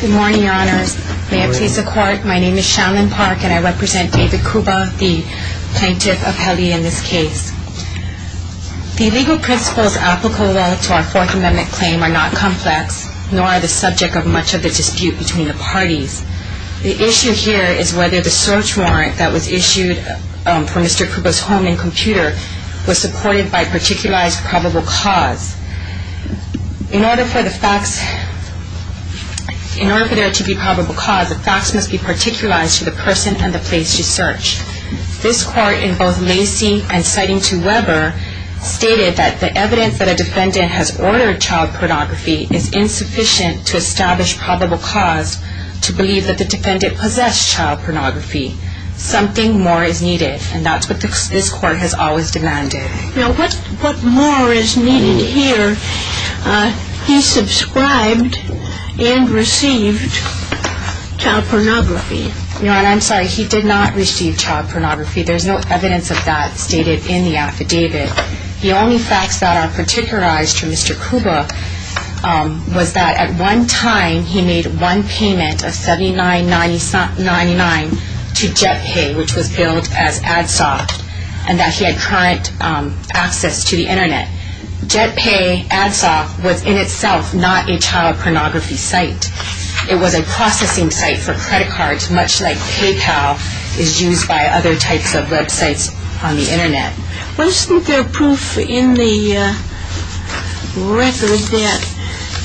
Good morning, honors. May it please the court, my name is Shaolin Park and I represent David Kuba, the plaintiff of Heli in this case. The legal principles applicable to our Fourth Amendment claim are not complex, nor are the subject of much of the dispute between the parties. The issue here is whether the search warrant that was issued for Mr. Kuba's home and computer was supported by a particularized probable cause. In order for the facts, in order for there to be probable cause, the facts must be particularized to the person and the place you search. This court, in both Lacey and citing to Weber, stated that the evidence that a defendant has ordered child pornography is insufficient to establish probable cause to believe that the defendant possessed child pornography. Something more is needed, and that's what this court has always demanded. Now what more is needed here? He subscribed and received child pornography. Your Honor, I'm sorry, he did not receive child pornography. There's no evidence of that stated in the affidavit. The only facts that are particularized to Mr. Kuba was that at one time he made one payment of $79.99 to JetPay, which was billed as AdSoft, and that he had current access to the Internet. JetPay, AdSoft, was in itself not a child pornography site. It was a processing site for credit cards, much like PayPal is used by other types of websites on the Internet. Wasn't there proof in the record that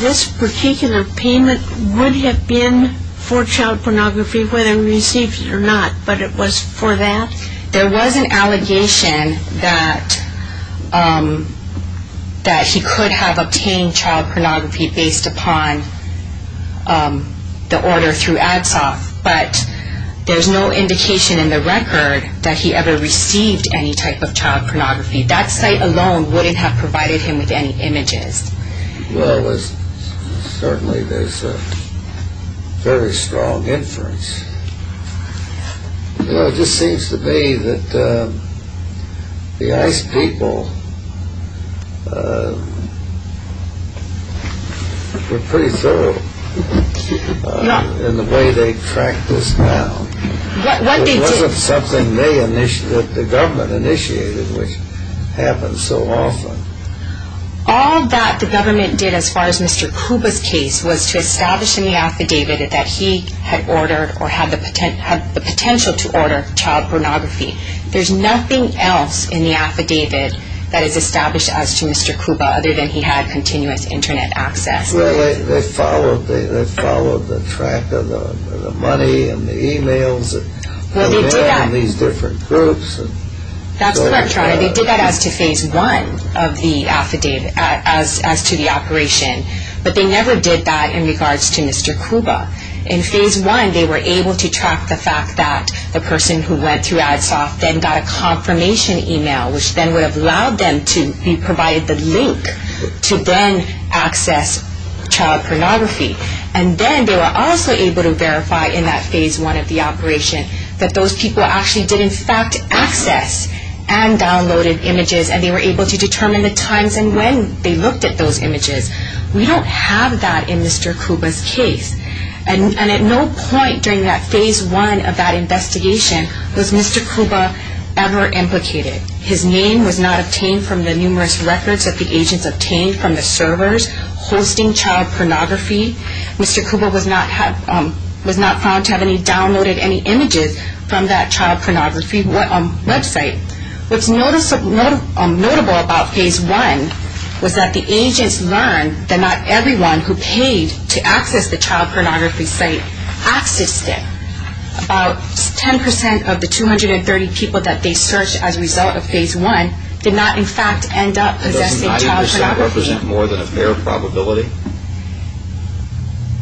this particular payment would have been for child pornography, whether he received it or not, but it was for that? There was an allegation that he could have obtained child pornography based upon the order through AdSoft, but there's no indication in the record that he ever received any type of child pornography. That site alone wouldn't have provided him with any images. Well, certainly there's a very strong inference. It just seems to me that the ICE people were pretty thorough in the way they tracked this down. It wasn't something that the government initiated, which happens so often. All that the government did, as far as Mr. Kuba's case, was to establish in the affidavit that he had ordered or had the potential to order child pornography. There's nothing else in the affidavit that is established as to Mr. Kuba other than he had continuous Internet access. Well, they followed the track of the money and the e-mails and the name of these different groups. They did that as to phase one of the operation, but they never did that in regards to Mr. Kuba. In phase one, they were able to track the fact that the person who went through AdSoft then got a confirmation e-mail, which then would have allowed them to be provided the link to then access child pornography. And then they were also able to verify in that phase one of the operation that those people actually did in fact access and downloaded images, and they were able to determine the times and when they looked at those images. We don't have that in Mr. Kuba's case. And at no point during that phase one of that investigation was Mr. Kuba ever implicated. His name was not obtained from the numerous records that the agents obtained from the servers hosting child pornography. Mr. Kuba was not found to have downloaded any images from that child pornography website. What's notable about phase one was that the agents learned that not everyone who paid to access the child pornography site accessed it. About 10% of the 230 people that they searched as a result of phase one did not in fact end up possessing child pornography. Does 90% represent more than a fair probability?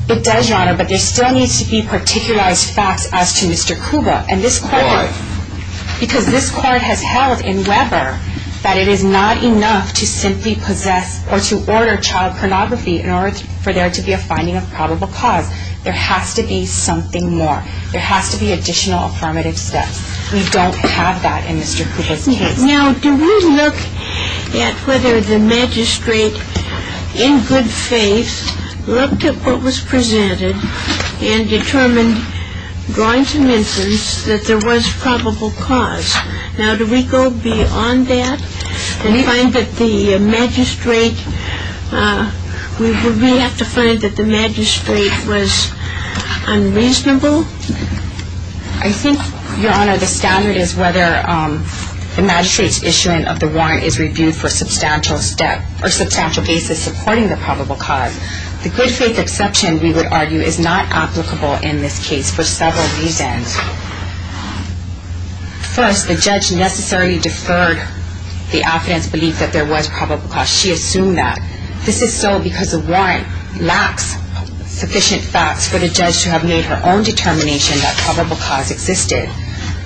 It does, Your Honor, but there still needs to be particularized facts as to Mr. Kuba. Why? Because this court has held in Weber that it is not enough to simply possess or to order child pornography in order for there to be a finding of probable cause. There has to be something more. There has to be additional affirmative steps. We don't have that in Mr. Kuba's case. Now, do we look at whether the magistrate in good faith looked at what was presented and determined drawings and infants that there was probable cause? Now, do we go beyond that and find that the magistrate was unreasonable? I think, Your Honor, the standard is whether the magistrate's issuance of the warrant is reviewed for a substantial basis supporting the probable cause. The good faith exception, we would argue, is not applicable in this case for several reasons. First, the judge necessarily deferred the affidavit's belief that there was probable cause. She assumed that. This is so because the warrant lacks sufficient facts for the judge to have made her own determination that probable cause existed.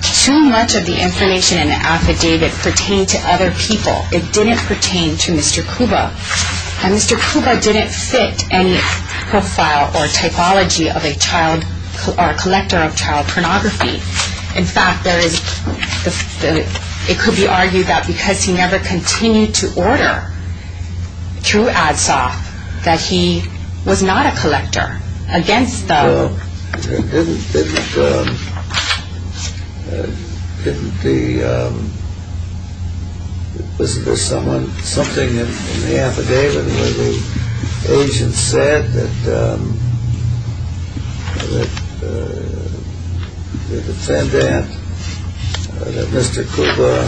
Too much of the information in the affidavit pertained to other people. It didn't pertain to Mr. Kuba. And Mr. Kuba didn't fit any profile or typology of a collector of child pornography. In fact, it could be argued that because he never continued to order through ADSOF, that he was not a collector. No, it didn't. There was something in the affidavit where the agent said that Mr. Kuba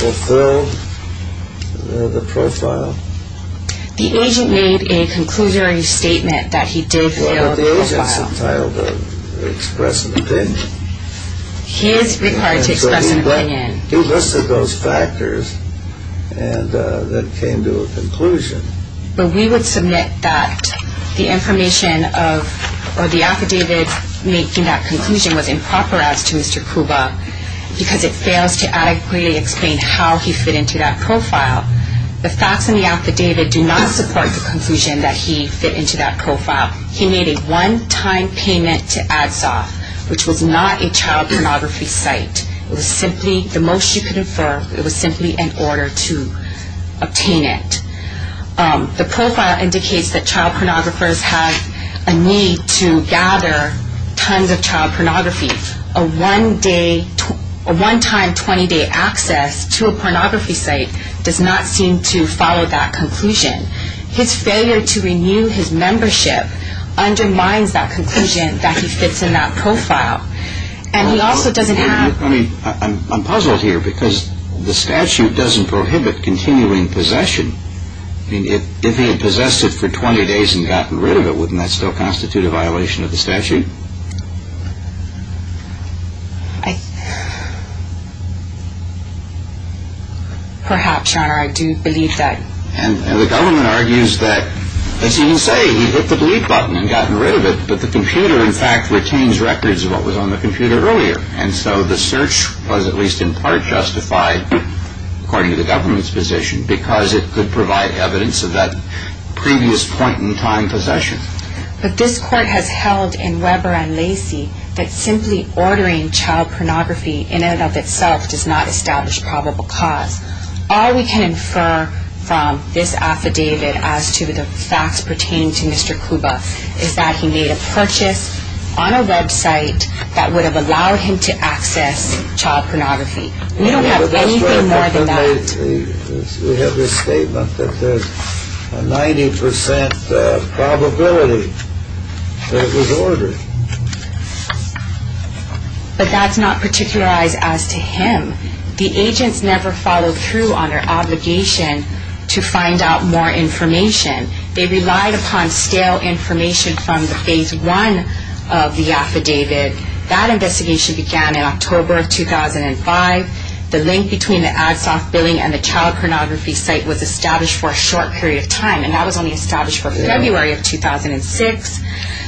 fulfilled the profile. The agent made a conclusory statement that he did fulfill the profile. But the agent's entitled to express an opinion. He is required to express an opinion. He listed those factors that came to a conclusion. But we would submit that the information of the affidavit making that conclusion was improper as to Mr. Kuba because it fails to adequately explain how he fit into that profile. The facts in the affidavit do not support the conclusion that he fit into that profile. He made a one-time payment to ADSOF, which was not a child pornography site. It was simply, the most you could infer, it was simply an order to obtain it. The profile indicates that child pornographers have a need to gather tons of child pornography. A one-time, 20-day access to a pornography site does not seem to follow that conclusion. His failure to renew his membership undermines that conclusion that he fits in that profile. I'm puzzled here because the statute doesn't prohibit continuing possession. I mean, if he had possessed it for 20 days and gotten rid of it, wouldn't that still constitute a violation of the statute? Perhaps, Your Honor. I do believe that. And the government argues that, as you say, he hit the delete button and gotten rid of it, but the computer, in fact, retains records of what was on the computer earlier. And so the search was at least in part justified, according to the government's position, because it could provide evidence of that previous point-in-time possession. But this court has held in Weber and Lacy that simply ordering child pornography in and of itself does not establish probable cause. All we can infer from this affidavit as to the facts pertaining to Mr. Kuba is that he made a purchase on a website that would have allowed him to access child pornography. We don't have anything more than that. We have this statement that there's a 90 percent probability that it was ordered. But that's not particularized as to him. The agents never followed through on their obligation to find out more information. They relied upon stale information from the phase one of the affidavit. That investigation began in October of 2005. The link between the AdSoft billing and the child pornography site was established for a short period of time, and that was only established for February of 2006.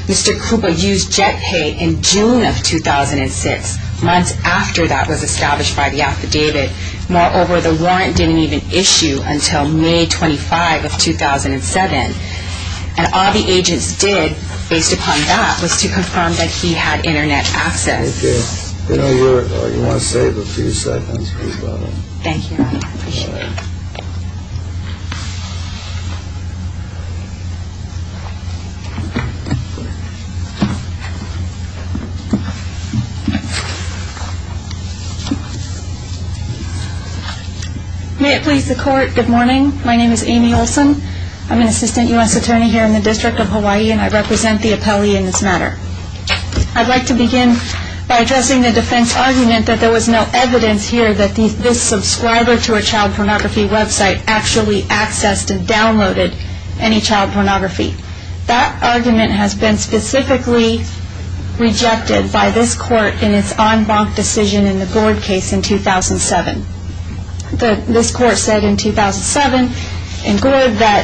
Mr. Kuba used JetPay in June of 2006, months after that was established by the affidavit. Moreover, the warrant didn't even issue until May 25 of 2007. And all the agents did, based upon that, was to confirm that he had Internet access. Thank you. If you want to save a few seconds, please go ahead. Thank you. May it please the Court, good morning. My name is Amy Olson. I'm an assistant U.S. attorney here in the District of Hawaii, and I represent the appellee in this matter. I'd like to begin by addressing the defense argument that there was no evidence here that this subscriber to a child pornography website actually accessed and downloaded any child pornography. That argument has been specifically rejected by this Court in its en banc decision in the Gord case in 2007. This Court said in 2007 in Gord that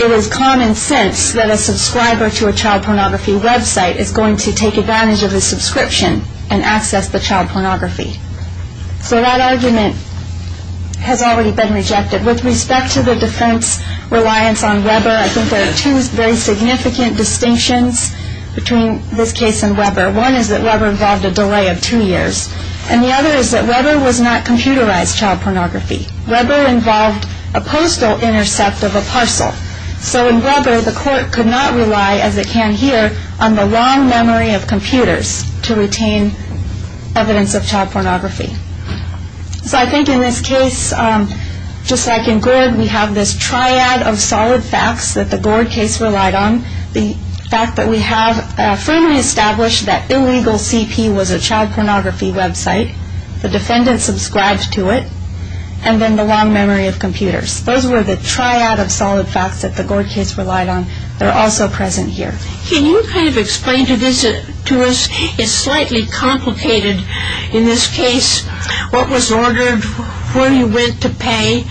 it is common sense that a subscriber to a child pornography website is going to take advantage of a subscription and access the child pornography. So that argument has already been rejected. With respect to the defense reliance on Weber, I think there are two very significant distinctions between this case and Weber. One is that Weber involved a delay of two years, and the other is that Weber was not computerized child pornography. Weber involved a postal intercept of a parcel. So in Weber, the Court could not rely, as it can here, on the long memory of computers to retain evidence of child pornography. So I think in this case, just like in Gord, we have this triad of solid facts that the Gord case relied on. The fact that we have firmly established that illegal CP was a child pornography website, the defendant subscribed to it, and then the long memory of computers. Those were the triad of solid facts that the Gord case relied on. They're also present here. Can you kind of explain to us, it's slightly complicated in this case, what was ordered, where you went to pay.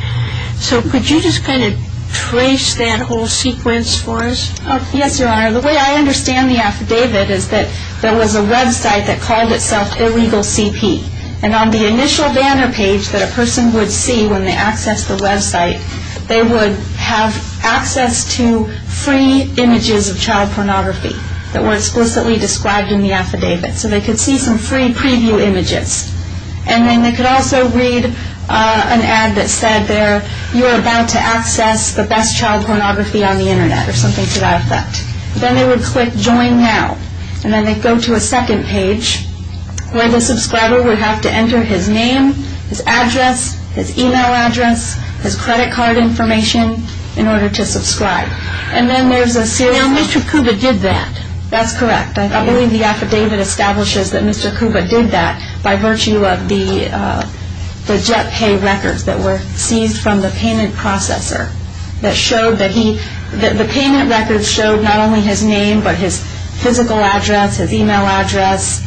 So could you just kind of trace that whole sequence for us? Yes, Your Honor. The way I understand the affidavit is that there was a website that called itself Illegal CP. And on the initial banner page that a person would see when they accessed the website, they would have access to free images of child pornography that were explicitly described in the affidavit. So they could see some free preview images. And then they could also read an ad that said there, you're about to access the best child pornography on the Internet, or something to that effect. Then they would click join now. And then they'd go to a second page where the subscriber would have to enter his name, his address, his email address, his credit card information in order to subscribe. And then there's a serial number. Now Mr. Kuba did that. That's correct. I believe the affidavit establishes that Mr. Kuba did that by virtue of the JetPay records that were seized from the payment processor that showed that he, the payment records showed not only his name but his physical address, his email address,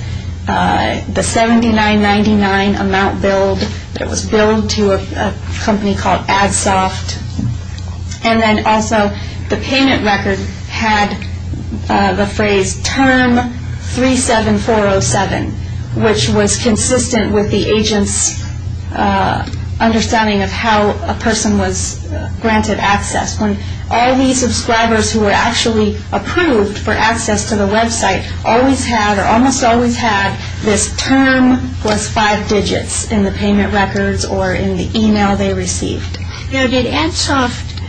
the $79.99 amount billed that was billed to a company called AdSoft. And then also the payment record had the phrase term 37407, which was consistent with the agent's understanding of how a person was granted access. When all these subscribers who were actually approved for access to the website always had or almost always had this term plus five digits in the payment records or in the email they received. Now did AdSoft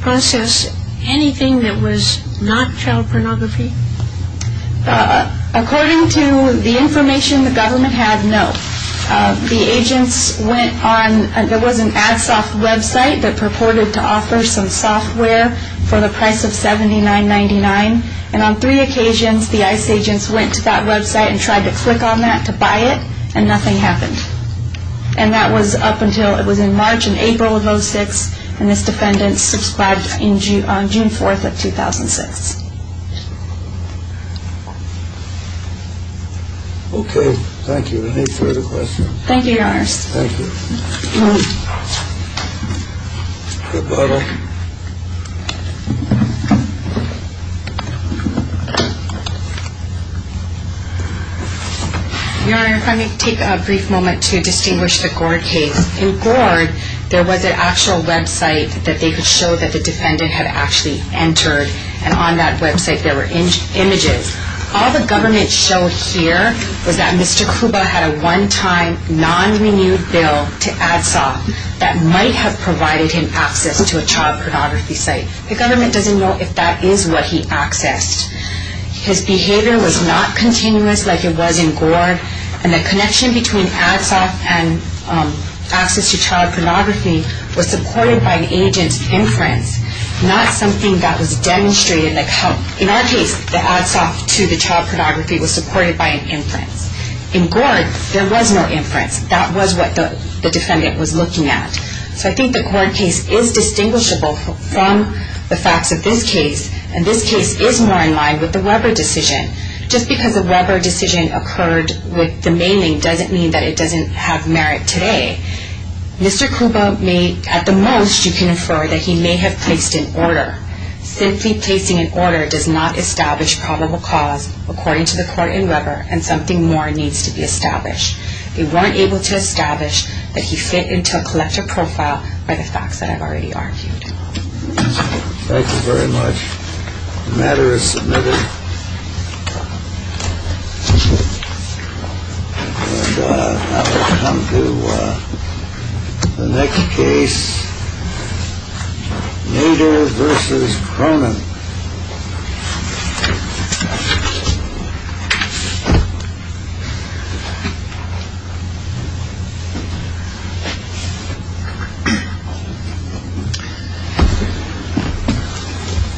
process anything that was not child pornography? According to the information the government had, no. The agents went on, there was an AdSoft website that purported to offer some software for the price of $79.99. And on three occasions the ICE agents went to that website and tried to click on that to buy it and nothing happened. And that was up until, it was in March and April of 2006 and this defendant subscribed on June 4th of 2006. Okay, thank you. Any further questions? Thank you, Your Honor. Thank you. Good morning. Your Honor, if I may take a brief moment to distinguish the Gord case. In Gord there was an actual website that they could show that the defendant had actually entered and on that website there were images. All the government showed here was that Mr. Krupa had a one-time non-renewed bill to AdSoft that might have provided him access to a child pornography site. The government doesn't know if that is what he accessed. His behavior was not continuous like it was in Gord and the connection between AdSoft and access to child pornography was supported by an agent's inference, not something that was demonstrated. In our case the AdSoft to the child pornography was supported by an inference. In Gord there was no inference. That was what the defendant was looking at. So I think the Gord case is distinguishable from the facts of this case and this case is more in line with the Weber decision. Just because a Weber decision occurred with the mailing doesn't mean that it doesn't have merit today. Mr. Krupa may at the most you can infer that he may have placed an order. Simply placing an order does not establish probable cause according to the court in Weber and something more needs to be established. They weren't able to establish that he fit into a collector profile by the facts that I've already argued. Thank you very much. The matter is submitted. And now we come to the next case. Nader versus Cronin.